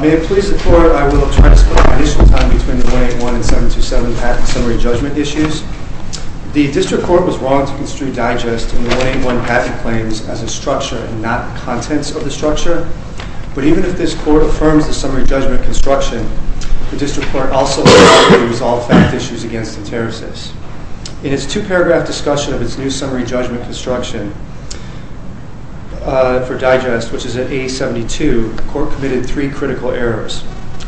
May it please the Court, I will transcribe the initial time between the 1-8-1 and 7-2-7 patent summary judgment issues. The District Court was wrong to construe Digest and the 1-8-1 patent claims as a structure and not contents of the structure, but even if this Court affirms the summary judgment construction, the District Court also has the right to resolve fact issues against ENTERASYS. In its two-paragraph discussion of its new summary judgment construction for Digest, which is at 8-72, the Court committed three critical errors.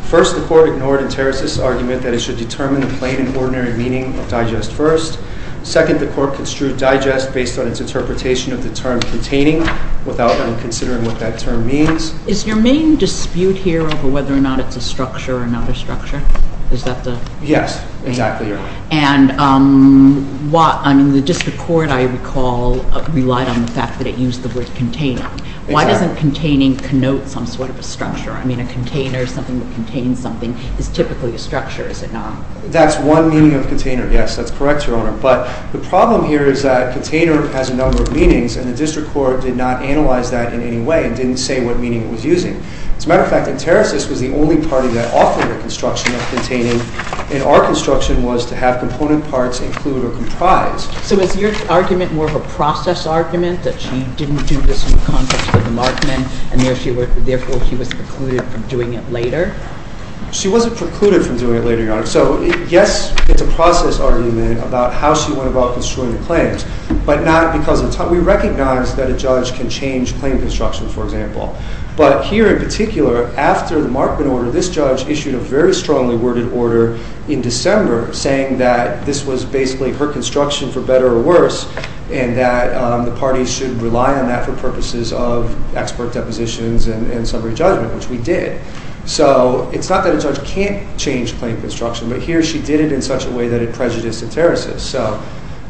First, the Court ignored ENTERASYS' argument that it should determine the plain and ordinary meaning of Digest first. Second, the Court construed Digest based on its interpretation of the term containing without even considering what that term means. Is your main dispute here over whether or not it's a structure or not a structure? Yes, exactly, Your Honor. And the District Court, I recall, relied on the fact that it used the word containing. Why doesn't containing connote some sort of a structure? I mean, a container is something that contains something. It's typically a structure, is it not? That's one meaning of container, yes. That's correct, Your Honor. But the problem here is that container has a number of meanings and the District Court did not analyze that in any way and didn't say what meaning it was using. As a matter of fact, ENTERASYS was the only party that offered a construction of containing, and our construction was to have component parts include or comprise. So is your argument more of a process argument, that she didn't do this in the context of the markment, and therefore she was precluded from doing it later? She wasn't precluded from doing it later, Your Honor. So, yes, it's a process argument about how she went about construing the claims, but not because of time. We recognize that a judge can change claim construction, for example. But here in particular, after the markment order, this judge issued a very strongly worded order in December saying that this was basically her construction, for better or worse, and that the parties should rely on that for purposes of expert depositions and summary judgment, which we did. So it's not that a judge can't change claim construction, but here she did it in such a way that it prejudiced ENTERASYS. So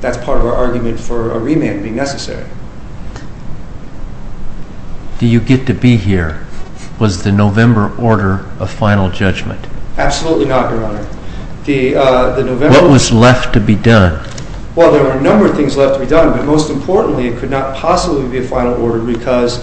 that's part of our argument for a remand being necessary. Do you get to be here? Was the November order a final judgment? Absolutely not, Your Honor. What was left to be done? Well, there were a number of things left to be done, but most importantly, it could not possibly be a final order, because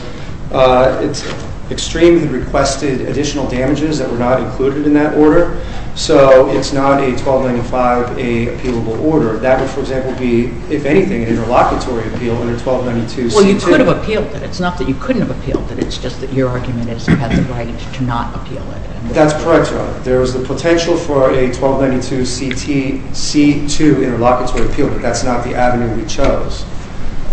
it extremely requested additional damages that were not included in that order. So it's not a 1295A appealable order. That would, for example, be, if anything, an interlocutory appeal under 1292C2. Well, you could have appealed it. It's not that you couldn't have appealed it. It's just that your argument is you had the right to not appeal it. That's correct, Your Honor. There was the potential for a 1292C2 interlocutory appeal, but that's not the avenue we chose.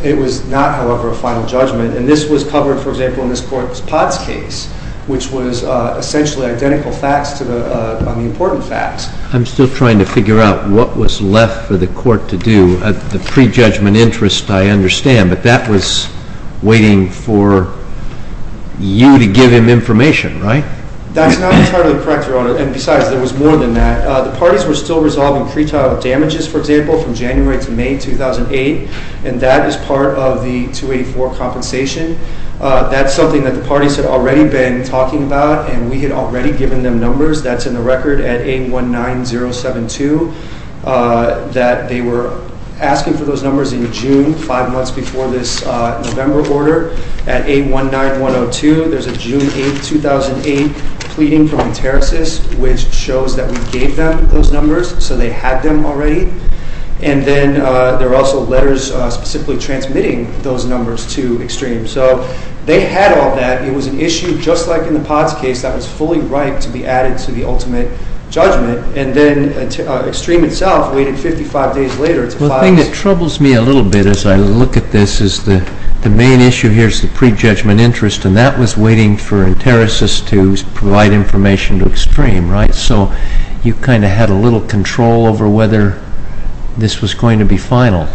It was not, however, a final judgment. And this was covered, for example, in this court's POTS case, which was essentially identical facts on the important facts. I'm still trying to figure out what was left for the court to do. The prejudgment interest I understand, but that was waiting for you to give him information, right? That's not entirely correct, Your Honor. And besides, there was more than that. The parties were still resolving pretrial damages, for example, from January to May 2008, and that is part of the 284 compensation. That's something that the parties had already been talking about, and we had already given them numbers. That's in the record at 819072, that they were asking for those numbers in June, five months before this November order. At 819102, there's a June 8, 2008, pleading from Entericis, which shows that we gave them those numbers, so they had them already. And then there were also letters specifically transmitting those numbers to Extreme. So they had all that. It was an issue, just like in the POTS case, that was fully ripe to be added to the ultimate judgment. And then Extreme itself waited 55 days later. Well, the thing that troubles me a little bit as I look at this is the main issue here is the prejudgment interest, and that was waiting for Entericis to provide information to Extreme, right? So you kind of had a little control over whether this was going to be final.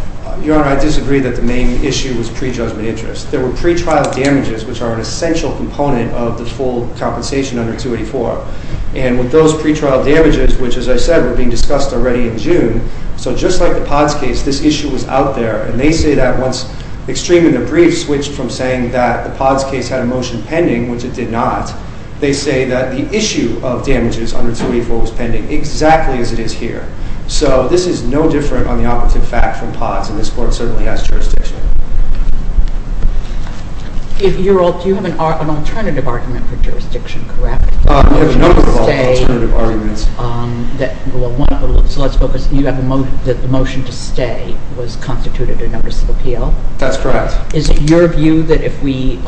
Your Honor, I disagree that the main issue was prejudgment interest. There were pretrial damages, which are an essential component of the full compensation under 284. And with those pretrial damages, which, as I said, were being discussed already in June, so just like the POTS case, this issue was out there. And they say that once Extreme and the brief switched from saying that the POTS case had a motion pending, which it did not, they say that the issue of damages under 284 was pending, exactly as it is here. So this is no different on the operative fact from POTS, and this Court certainly has jurisdiction. Do you have an alternative argument for jurisdiction, correct? We have a number of alternative arguments. So let's focus. You have a motion that the motion to stay was constituted a notice of appeal? That's correct. Is it your view that if we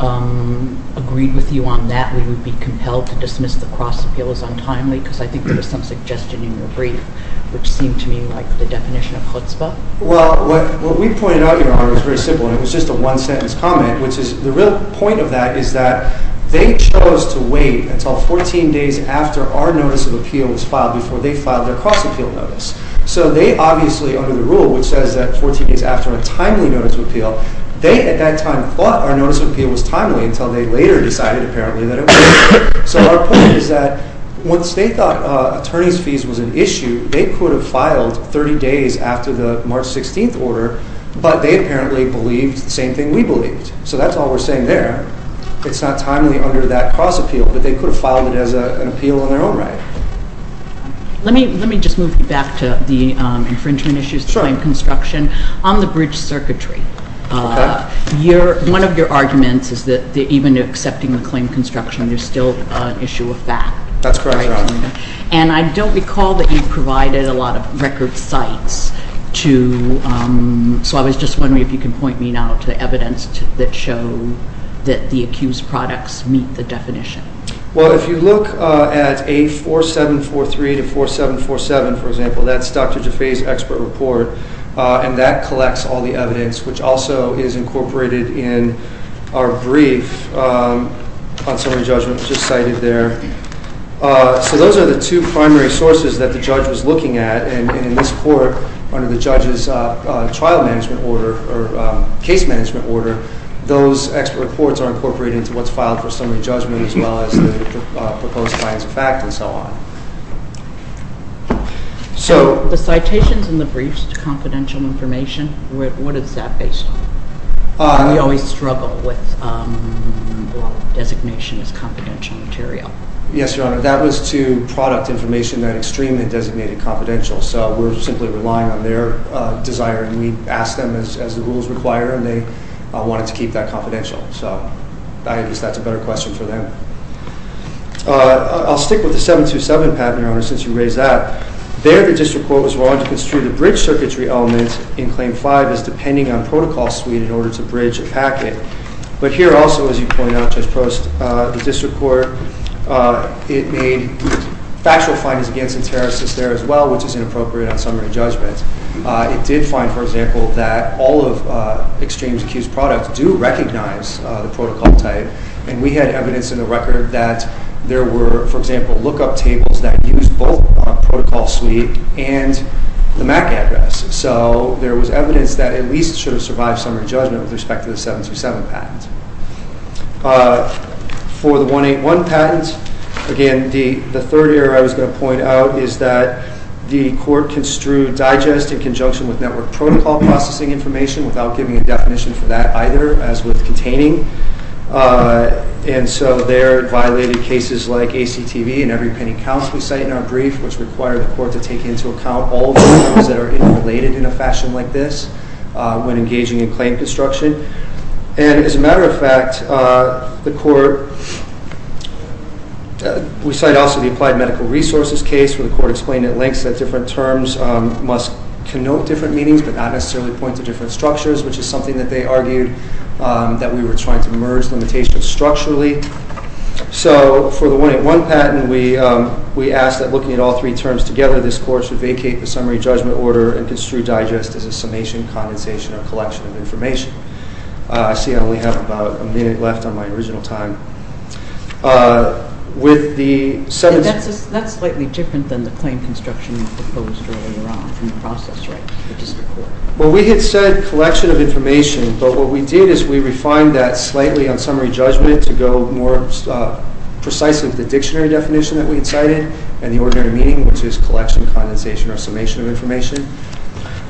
agreed with you on that, we would be compelled to dismiss the cross-appeal as untimely? Because I think there was some suggestion in your brief which seemed to me like the definition of chutzpah. Well, what we pointed out, Your Honor, was very simple, and it was just a one-sentence comment, which is the real point of that is that they chose to wait until 14 days after our notice of appeal was filed before they filed their cross-appeal notice. So they obviously, under the rule which says that 14 days after a timely notice of appeal, they at that time thought our notice of appeal was timely until they later decided apparently that it wasn't. So our point is that once they thought attorneys' fees was an issue, they could have filed 30 days after the March 16th order, but they apparently believed the same thing we believed. So that's all we're saying there. It's not timely under that cross-appeal, but they could have filed it as an appeal in their own right. Let me just move you back to the infringement issues, the claim construction. On the bridge circuitry, one of your arguments is that even accepting the claim construction, there's still an issue of fact. That's correct, Your Honor. And I don't recall that you provided a lot of record sites to, so I was just wondering if you could point me now to evidence that show that the accused products meet the definition. Well, if you look at A4743 to 4747, for example, that's Dr. Jaffee's expert report, and that collects all the evidence, which also is incorporated in our brief on summary judgment just cited there. So those are the two primary sources that the judge was looking at, and in this court under the judge's trial management order or case management order, those expert reports are incorporated into what's filed for summary judgment as well as the proposed client's fact and so on. So the citations in the briefs to confidential information, what is that based on? We always struggle with designation as confidential material. Yes, Your Honor, that was to product information that extremely designated confidential, so we're simply relying on their desire, and we ask them as the rules require, and they wanted to keep that confidential, so I guess that's a better question for them. I'll stick with the 727 patent, Your Honor, since you raised that. There, the district court was wrong to construe the bridge circuitry element in Claim 5 as depending on protocol suite in order to bridge a packet. But here also, as you point out, Judge Post, the district court, it made factual findings against the terrorists there as well, which is inappropriate on summary judgment. It did find, for example, that all of Xtreme's accused products do recognize the protocol type, and we had evidence in the record that there were, for example, look-up tables that used both protocol suite and the MAC address. So there was evidence that at least should have survived summary judgment with respect to the 727 patent. For the 181 patent, again, the third error I was going to point out is that the court construed digest in conjunction with network protocol processing information without giving a definition for that either, as with containing. And so there violated cases like ACTV and every penny counts, we cite in our brief, which require the court to take into account all the terms that are interrelated in a fashion like this when engaging in claim construction. And as a matter of fact, the court, we cite also the Applied Medical Resources case where the court explained at length that different terms must connote different meanings but not necessarily point to different structures, which is something that they argued that we were trying to merge limitations structurally. So for the 181 patent, we asked that looking at all three terms together, this court should vacate the summary judgment order and construe digest as a summation, condensation, or collection of information. I see I only have about a minute left on my original time. That's slightly different than the claim construction proposed earlier on in the process, right? Well, we had said collection of information, but what we did is we refined that slightly on summary judgment to go more precisely with the dictionary definition that we had cited and the ordinary meaning, which is collection, condensation, or summation of information.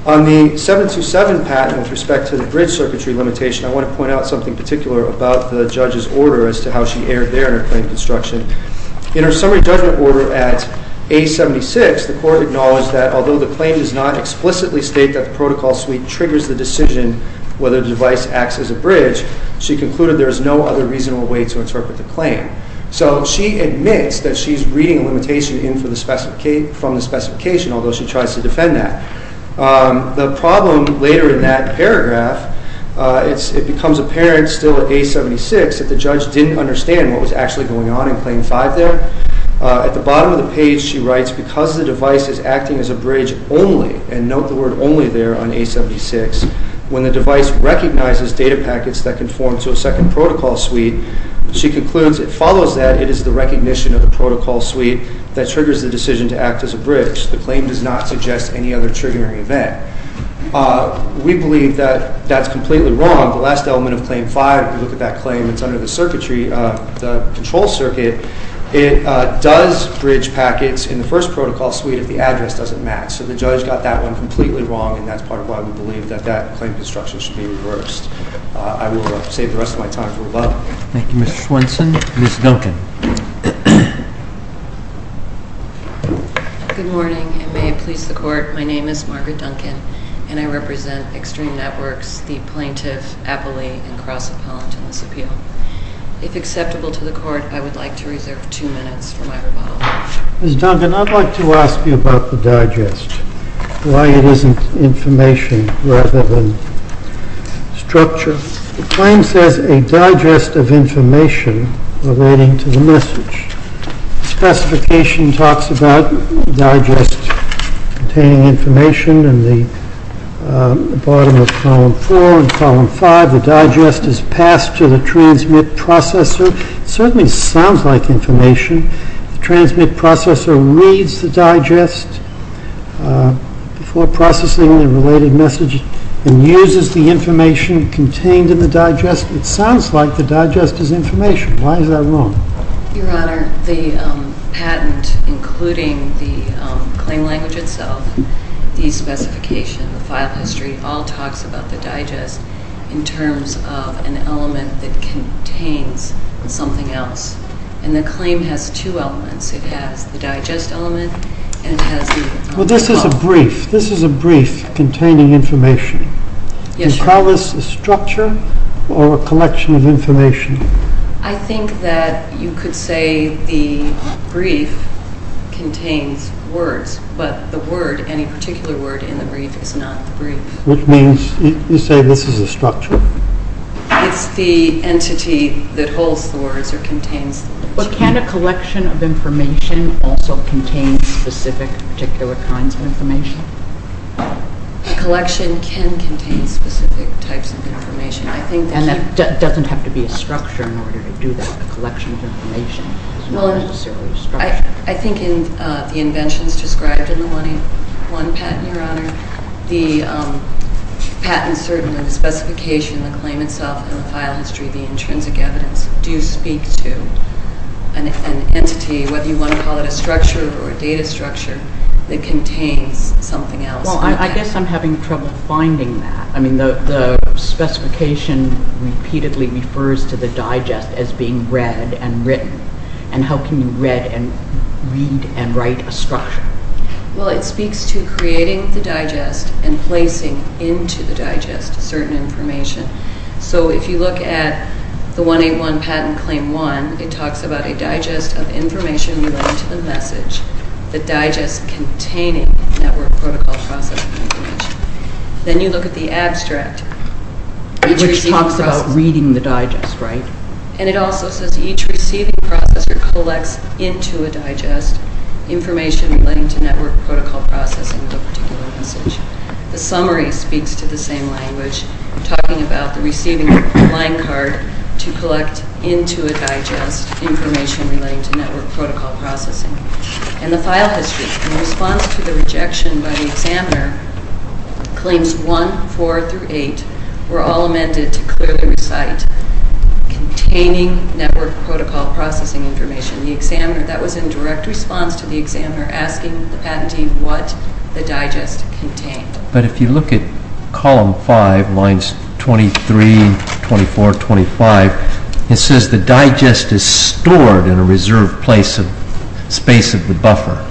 On the 727 patent with respect to the bridge circuitry limitation, I want to point out something particular about the judge's order as to how she erred there in her claim construction. In her summary judgment order at A76, the court acknowledged that although the claim does not explicitly state that the protocol suite triggers the decision whether the device acts as a bridge, she concluded there is no other reasonable way to interpret the claim. So she admits that she's reading a limitation from the specification, although she tries to defend that. The problem later in that paragraph, it becomes apparent still at A76 that the judge didn't understand what was actually going on in Claim 5 there. At the bottom of the page, she writes, because the device is acting as a bridge only, and note the word only there on A76, when the device recognizes data packets that conform to a second protocol suite, she concludes it follows that it is the recognition of the protocol suite that triggers the decision to act as a bridge. The claim does not suggest any other triggering event. We believe that that's completely wrong. The last element of Claim 5, if you look at that claim, it's under the circuitry, the control circuit. It does bridge packets in the first protocol suite if the address doesn't match. So the judge got that one completely wrong, and that's part of why we believe that that claim construction should be reversed. I will save the rest of my time for a moment. Thank you, Mr. Swenson. Ms. Duncan. Good morning, and may it please the Court, my name is Margaret Duncan, and I represent Extreme Networks, the plaintiff, appellee, and cross-appellant in this appeal. If acceptable to the Court, I would like to reserve two minutes for my rebuttal. Ms. Duncan, I'd like to ask you about the digest, why it isn't information rather than structure. The claim says a digest of information relating to the message. The specification talks about digest containing information in the bottom of Column 4. In Column 5, the digest is passed to the transmit processor. It certainly sounds like information. The transmit processor reads the digest before processing the related message and uses the information contained in the digest. It sounds like the digest is information. Why is that wrong? Your Honor, the patent, including the claim language itself, the specification, the file history, all talks about the digest in terms of an element that contains something else. And the claim has two elements. It has the digest element, and it has the… Well, this is a brief. This is a brief containing information. Do you call this a structure or a collection of information? I think that you could say the brief contains words, but the word, any particular word in the brief is not the brief. Which means you say this is a structure. It's the entity that holds the words or contains the words. But can a collection of information also contain specific, particular kinds of information? A collection can contain specific types of information. And that doesn't have to be a structure in order to do that. A collection of information is not necessarily a structure. I think in the inventions described in the 1A1 patent, Your Honor, the patent certainly, the specification, the claim itself, the file history, the intrinsic evidence, do speak to an entity, whether you want to call it a structure or a data structure, that contains something else. Well, I guess I'm having trouble finding that. I mean, the specification repeatedly refers to the digest as being read and written. And how can you read and read and write a structure? Well, it speaks to creating the digest and placing into the digest certain information. So if you look at the 1A1 Patent Claim 1, it talks about a digest of information relating to the message, the digest containing network protocol processing information. Then you look at the abstract. Which talks about reading the digest, right? And it also says each receiving processor collects into a digest information relating to network protocol processing of a particular message. The summary speaks to the same language, talking about the receiving line card to collect into a digest information relating to network protocol processing. And the file history, in response to the rejection by the examiner, Claims 1, 4 through 8 were all amended to clearly recite containing network protocol processing information. The examiner, that was in direct response to the examiner asking the patentee what the digest contained. But if you look at column 5, lines 23, 24, 25, it says the digest is stored in a reserved space of the buffer.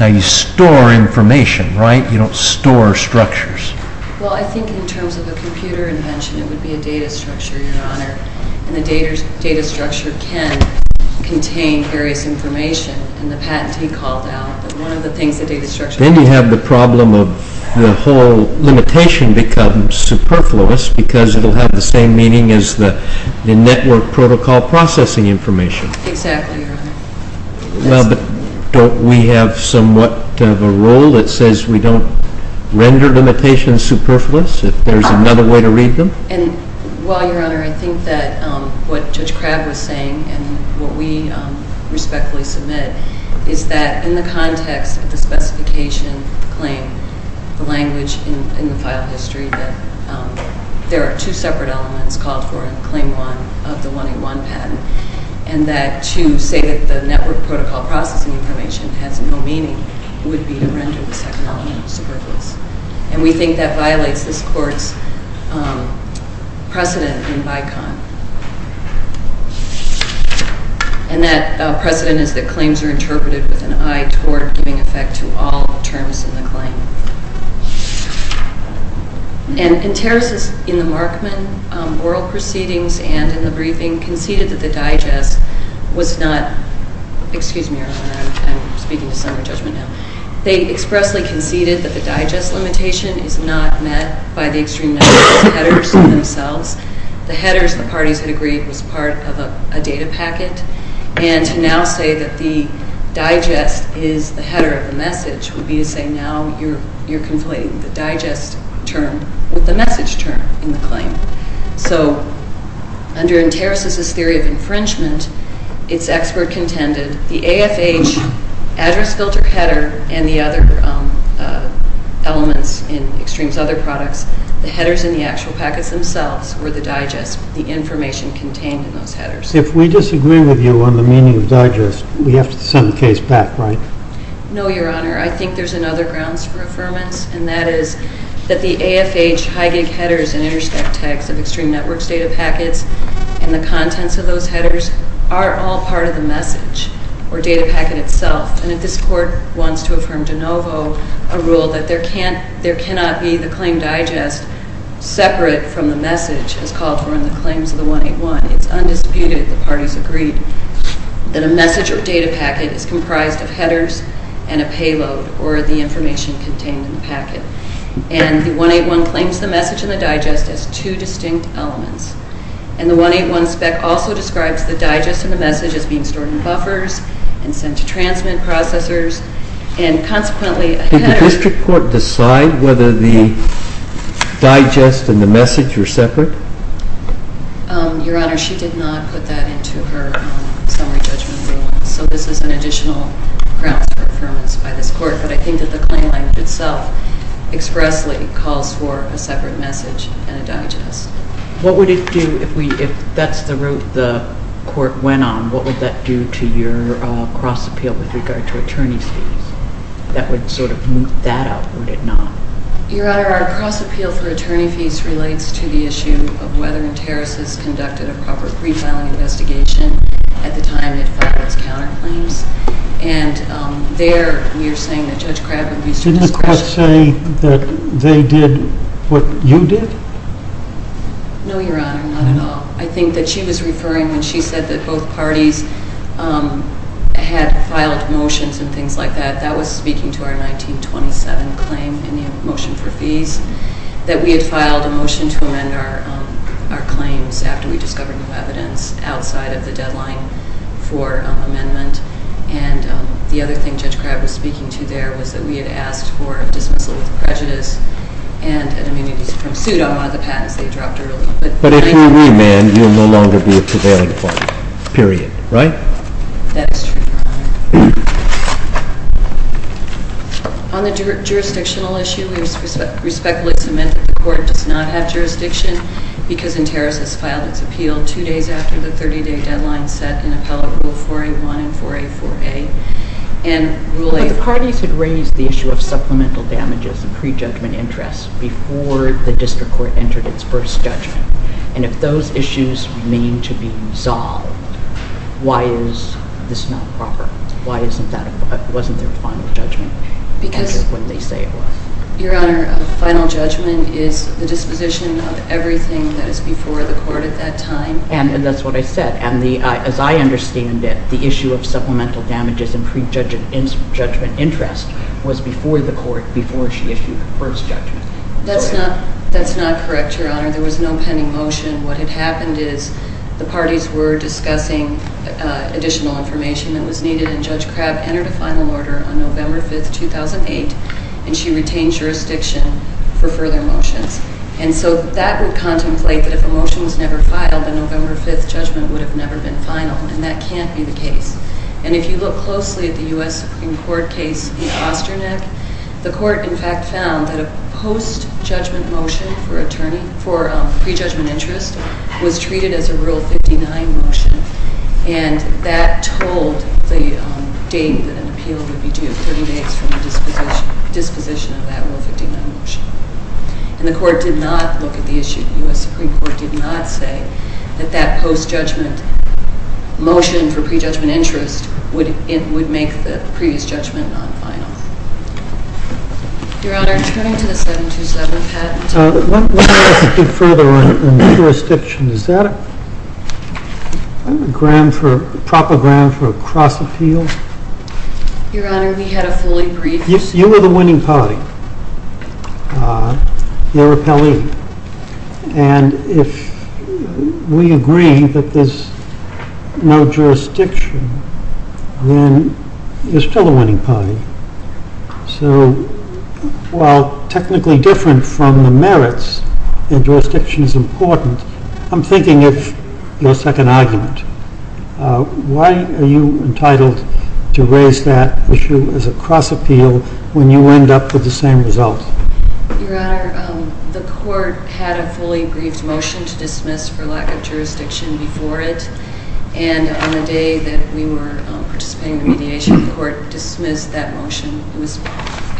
Now, you store information, right? You don't store structures. Well, I think in terms of a computer invention, it would be a data structure, Your Honor. And the data structure can contain various information. Then you have the problem of the whole limitation becomes superfluous because it will have the same meaning as the network protocol processing information. Exactly, Your Honor. Don't we have somewhat of a rule that says we don't render limitations superfluous if there's another way to read them? Well, Your Honor, I think that what Judge Crabb was saying and what we respectfully submit is that in the context of the specification, the claim, the language in the file history, that there are two separate elements called for in Claim 1 of the 1A1 patent and that to say that the network protocol processing information has no meaning would be to render the second element superfluous. And we think that violates this Court's precedent in BICON. And that precedent is that claims are interpreted with an eye toward giving effect to all terms in the claim. And Terraces, in the Markman oral proceedings and in the briefing, conceded that the digest was not... Excuse me, Your Honor. I'm speaking to some of the judgment now. They expressly conceded that the digest limitation is not met by the extreme number of headers themselves. The headers, the parties had agreed, was part of a data packet. And to now say that the digest is the header of the message would be to say now you're conflating the digest term with the message term in the claim. So under Terraces' theory of infringement, its expert contended the AFH address filter header and the other elements in Xtreme's other products, the headers in the actual packets themselves were the digest, the information contained in those headers. If we disagree with you on the meaning of digest, we have to send the case back, right? No, Your Honor. I think there's another grounds for affirmance and that is that the AFH high-gig headers and intercept tags of Xtreme Network's data packets and the contents of those headers are all part of the message or data packet itself. And if this Court wants to affirm de novo a rule that there cannot be the claim digest separate from the message as called for in the claims of the 181, it's undisputed, the parties agreed, that a message or data packet is comprised of headers and a payload or the information contained in the packet. And the 181 claims the message and the digest as two distinct elements. And the 181 spec also describes the digest and the message as being stored in buffers and sent to transmit processors and consequently a header. Did the District Court decide whether the digest and the message were separate? Your Honor, she did not put that into her summary judgment ruling, so this is an additional grounds for affirmance by this Court. But I think that the claim language itself expressly calls for a separate message and a digest. What would it do if that's the route the Court went on? What would that do to your cross-appeal with regard to attorney's fees? That would sort of move that up, would it not? Your Honor, our cross-appeal for attorney fees relates to the issue of whether and terrorist has conducted a proper pre-filing investigation at the time it filed its counterclaims. And there we are saying that Judge Crabb would be... Didn't the Court say that they did what you did? No, Your Honor, not at all. I think that she was referring when she said that both parties had filed motions and things like that, that was speaking to our 1927 claim in the motion for fees, that we had filed a motion to amend our claims after we discovered new evidence outside of the deadline for amendment. And the other thing Judge Crabb was speaking to there was that we had asked for a dismissal with prejudice and an amnesty from suit on one of the patents they dropped earlier. But if we re-amend, you'll no longer be a prevailing point, period, right? That is true, Your Honor. On the jurisdictional issue, we respectfully submit that the Court does not have jurisdiction because a terrorist has filed its appeal two days after the 30-day deadline set in But the parties had raised the issue of supplemental damages and prejudgment interests before the District Court entered its first judgment. And if those issues mean to be resolved, why is this not proper? Why wasn't there a final judgment when they say it was? Your Honor, a final judgment is the disposition of everything that is before the Court at that time. And that's what I said. And as I understand it, the issue of supplemental damages and prejudgment interest was before the Court before she issued her first judgment. That's not correct, Your Honor. There was no pending motion. What had happened is the parties were discussing additional information that was needed and Judge Crabb entered a final order on November 5, 2008, and she retained jurisdiction for further motions. And so that would contemplate that if a motion was never filed, the November 5 judgment would have never been final. And that can't be the case. And if you look closely at the U.S. Supreme Court case in Osternick, the Court, in fact, found that a post-judgment motion for prejudgment interest was treated as a Rule 59 motion, and that told the date that an appeal would be due, 30 days from the disposition of that Rule 59 motion. And the Court did not look at the issue. The U.S. Supreme Court did not say that that post-judgment motion for prejudgment interest would make the previous judgment non-final. Your Honor, turning to the 727 patent. Let me ask a bit further on jurisdiction. Is that a proper ground for a cross-appeal? Your Honor, we had a fully briefed. You were the winning party. And if we agree that there's no jurisdiction, then there's still a winning party. So, while technically different from the merits, and jurisdiction is important, I'm thinking of your second argument. Why are you entitled to raise that issue as a cross-appeal when you end up with the same result? Your Honor, the Court had a fully briefed motion to dismiss for lack of jurisdiction before it, and on the day that we were participating in the mediation, the Court dismissed that motion. It was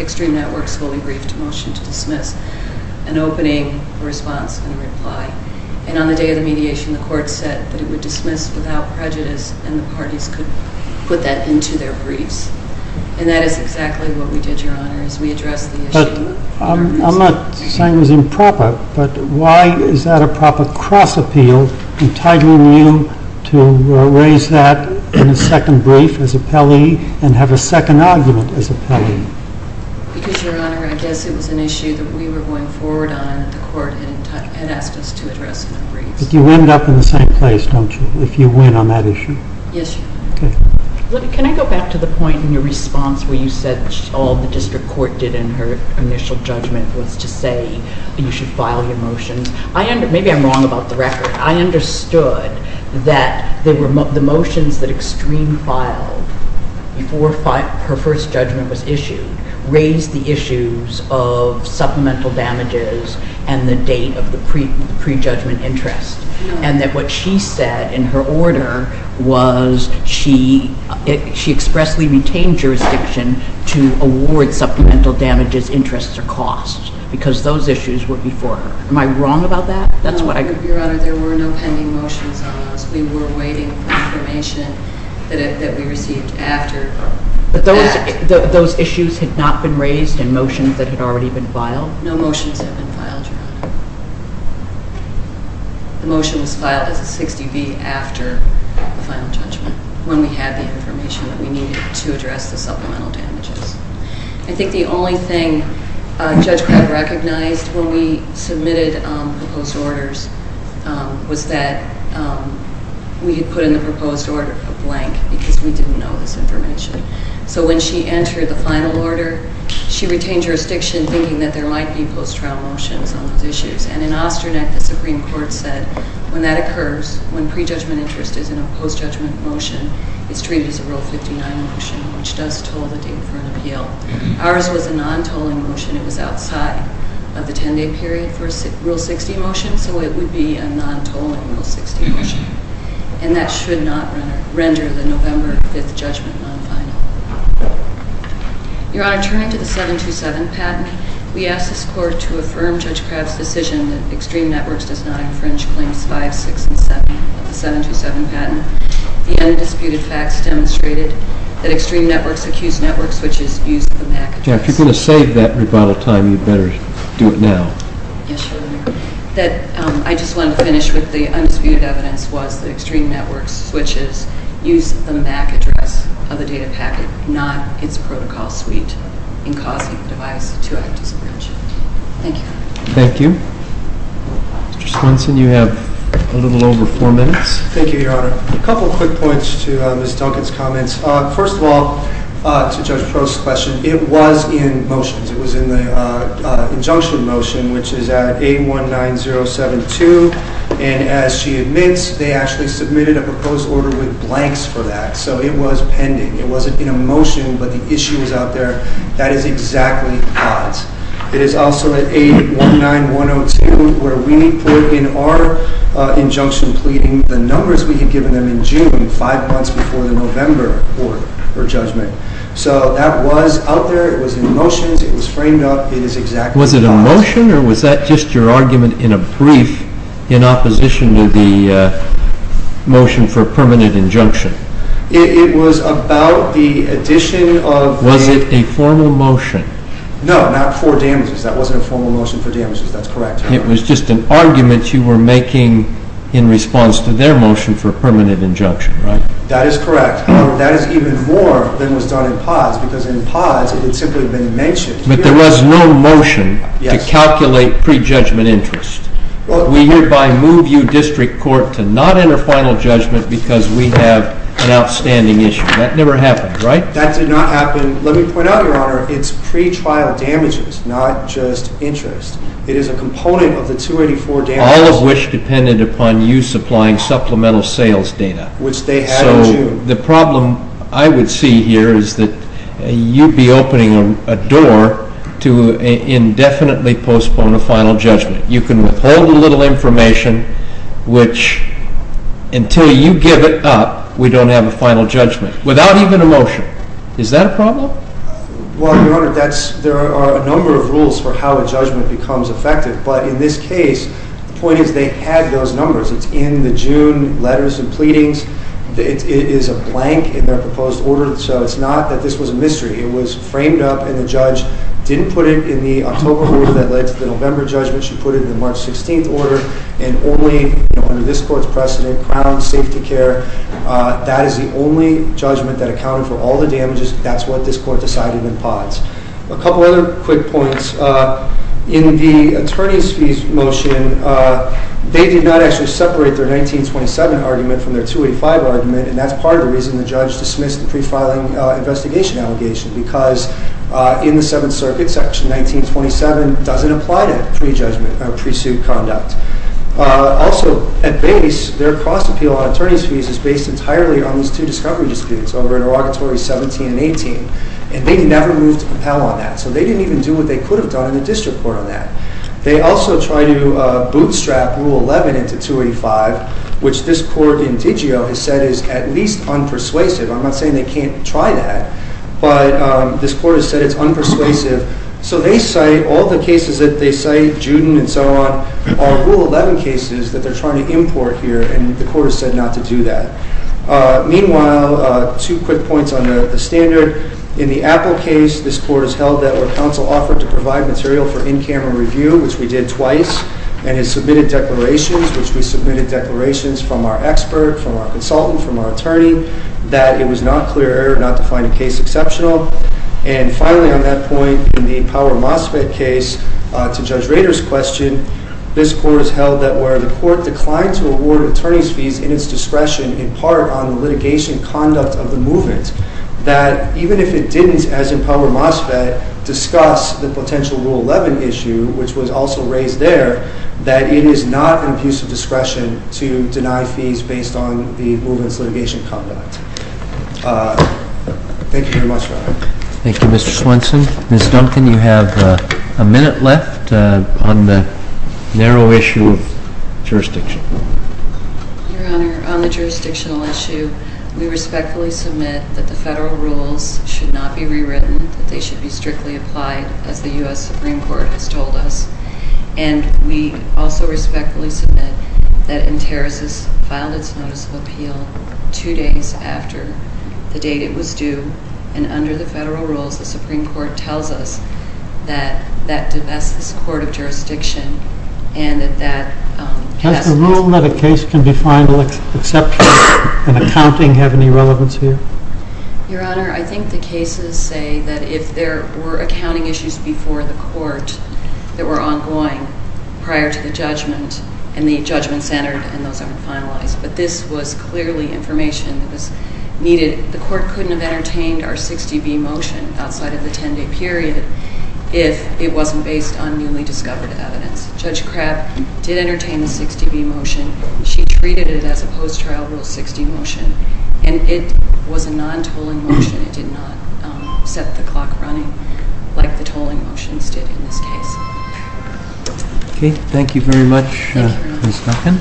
Extreme Network's fully briefed motion to dismiss, an opening response and a reply. And on the day of the mediation, the Court said that it would dismiss without prejudice and the parties could put that into their briefs. And that is exactly what we did, Your Honor, is we addressed the issue. But I'm not saying it was improper, but why is that a proper cross-appeal, entitling you to raise that in a second brief as appellee and have a second argument as appellee? Because, Your Honor, I guess it was an issue that we were going forward on that the Court had asked us to address in the briefs. But you end up in the same place, don't you, if you win on that issue? Yes, Your Honor. Can I go back to the point in your response where you said all the district court did in her initial judgment was to say you should file your motions? Maybe I'm wrong about the record. I understood that the motions that Extreme filed before her first judgment was issued raised the issues of supplemental damages and the date of the prejudgment interest, and that what she said in her order was she expressly retained jurisdiction to award supplemental damages, interests, or costs because those issues were before her. Am I wrong about that? No, Your Honor. There were no pending motions on those. We were waiting for information that we received after. But those issues had not been raised in motions that had already been filed? No motions had been filed, Your Honor. The motion was filed as a 60B after the final judgment when we had the information that we needed to address the supplemental damages. I think the only thing Judge Crabb recognized when we submitted proposed orders was that we had put in the proposed order a blank because we didn't know this information. So when she entered the final order, she retained jurisdiction thinking that there might be post-trial motions on those issues. And in Austernet, the Supreme Court said when that occurs, when prejudgment interest is in a post-judgment motion, it's treated as a Rule 59 motion, which does toll the date for an appeal. Ours was a non-tolling motion. It was outside of the 10-day period for a Rule 60 motion, so it would be a non-tolling Rule 60 motion. And that should not render the November 5th judgment non-final. Your Honor, turning to the 727 patent, we asked this Court to affirm Judge Crabb's decision that Extreme Networks does not infringe Claims 5, 6, and 7 of the 727 patent. The undisputed facts demonstrated that Extreme Networks accused network switches used the MAC address. If you're going to save that rebuttal time, you'd better do it now. Yes, Your Honor. I just wanted to finish with the undisputed evidence was that Extreme Networks switches used the MAC address of the data packet, not its protocol suite, in causing the device to act as a bridge. Thank you. Thank you. Mr. Swenson, you have a little over four minutes. Thank you, Your Honor. A couple of quick points to Ms. Duncan's comments. First of all, to Judge Proulx's question, it was in motions. It was in the injunction motion, which is at 819072, and as she admits, they actually submitted a proposed order with blanks for that, so it was pending. It wasn't in a motion, but the issue was out there. That is exactly the odds. It is also at 819102, where we put in our injunction pleading the numbers we had given them in June, five months before the November court or judgment. So that was out there. It was framed up. It is exactly the odds. Was it a motion, or was that just your argument in a brief, in opposition to the motion for permanent injunction? It was about the addition of the… Was it a formal motion? No, not for damages. That wasn't a formal motion for damages. That's correct. It was just an argument you were making in response to their motion for permanent injunction, right? That is correct. However, that is even more than was done in pods, because in pods, it had simply been mentioned. But there was no motion to calculate prejudgment interest. We hereby move you, District Court, to not enter final judgment because we have an outstanding issue. That never happened, right? That did not happen. Let me point out, Your Honor, it's pretrial damages, not just interest. It is a component of the 284 damages. All of which depended upon you supplying supplemental sales data. Which they had in June. The problem I would see here is that you'd be opening a door to indefinitely postpone a final judgment. You can withhold a little information, which, until you give it up, we don't have a final judgment. Without even a motion. Is that a problem? Well, Your Honor, there are a number of rules for how a judgment becomes effective. But in this case, the point is they had those numbers. It's in the June letters and pleadings. It is a blank in their proposed order. So it's not that this was a mystery. It was framed up and the judge didn't put it in the October order that led to the November judgment. She put it in the March 16th order. And only under this court's precedent, Crown Safety Care, that is the only judgment that accounted for all the damages. That's what this court decided in POTS. A couple other quick points. In the attorney's fees motion, they did not actually separate their 1927 argument from their 285 argument, and that's part of the reason the judge dismissed the pre-filing investigation allegation, because in the Seventh Circuit, Section 1927 doesn't apply to pre-suit conduct. Also, at base, their cost appeal on attorney's fees is based entirely on these two discovery disputes, over interrogatory 17 and 18. And they never moved to compel on that. So they didn't even do what they could have done in the district court on that. They also tried to bootstrap Rule 11 into 285, which this court in Digio has said is at least unpersuasive. I'm not saying they can't try that, but this court has said it's unpersuasive. So they cite all the cases that they cite, Juden and so on, are Rule 11 cases that they're trying to import here, and the court has said not to do that. Meanwhile, two quick points on the standard. In the Apple case, this court has held that, where counsel offered to provide material for in-camera review, which we did twice, and has submitted declarations, which we submitted declarations from our expert, from our consultant, from our attorney, that it was not clear error not to find a case exceptional. And finally, on that point, in the Power Mosfet case, to Judge Rader's question, this court has held that, where the court declined to award attorney's fees in its discretion, in part on the litigation conduct of the movement, that even if it didn't, as in Power Mosfet, discuss the potential Rule 11 issue, which was also raised there, that it is not an abuse of discretion to deny fees based on the movement's litigation conduct. Thank you very much, Your Honor. Thank you, Mr. Swenson. Ms. Duncan, you have a minute left on the narrow issue of jurisdiction. Your Honor, on the jurisdictional issue, we respectfully submit that the federal rules should not be rewritten, that they should be strictly applied, as the U.S. Supreme Court has told us. And we also respectfully submit that Interis has filed its notice of appeal two days after the date it was due, and under the federal rules, the Supreme Court tells us that that divests the support of jurisdiction, and that that has to be... Does the rule that a case can be found exceptional in accounting have any relevance here? Your Honor, I think the cases say that if there were accounting issues before the court that were ongoing prior to the judgment, and the judgment centered in those that were finalized, but this was clearly information that was needed. The court couldn't have entertained our 60B motion outside of the 10-day period if it wasn't based on newly discovered evidence. Judge Crabb did entertain the 60B motion. She treated it as a post-trial Rule 60 motion, and it was a non-tolling motion. It did not set the clock running like the tolling motions did in this case. Okay. Thank you very much, Ms. Duncan. Thank you, Your Honor.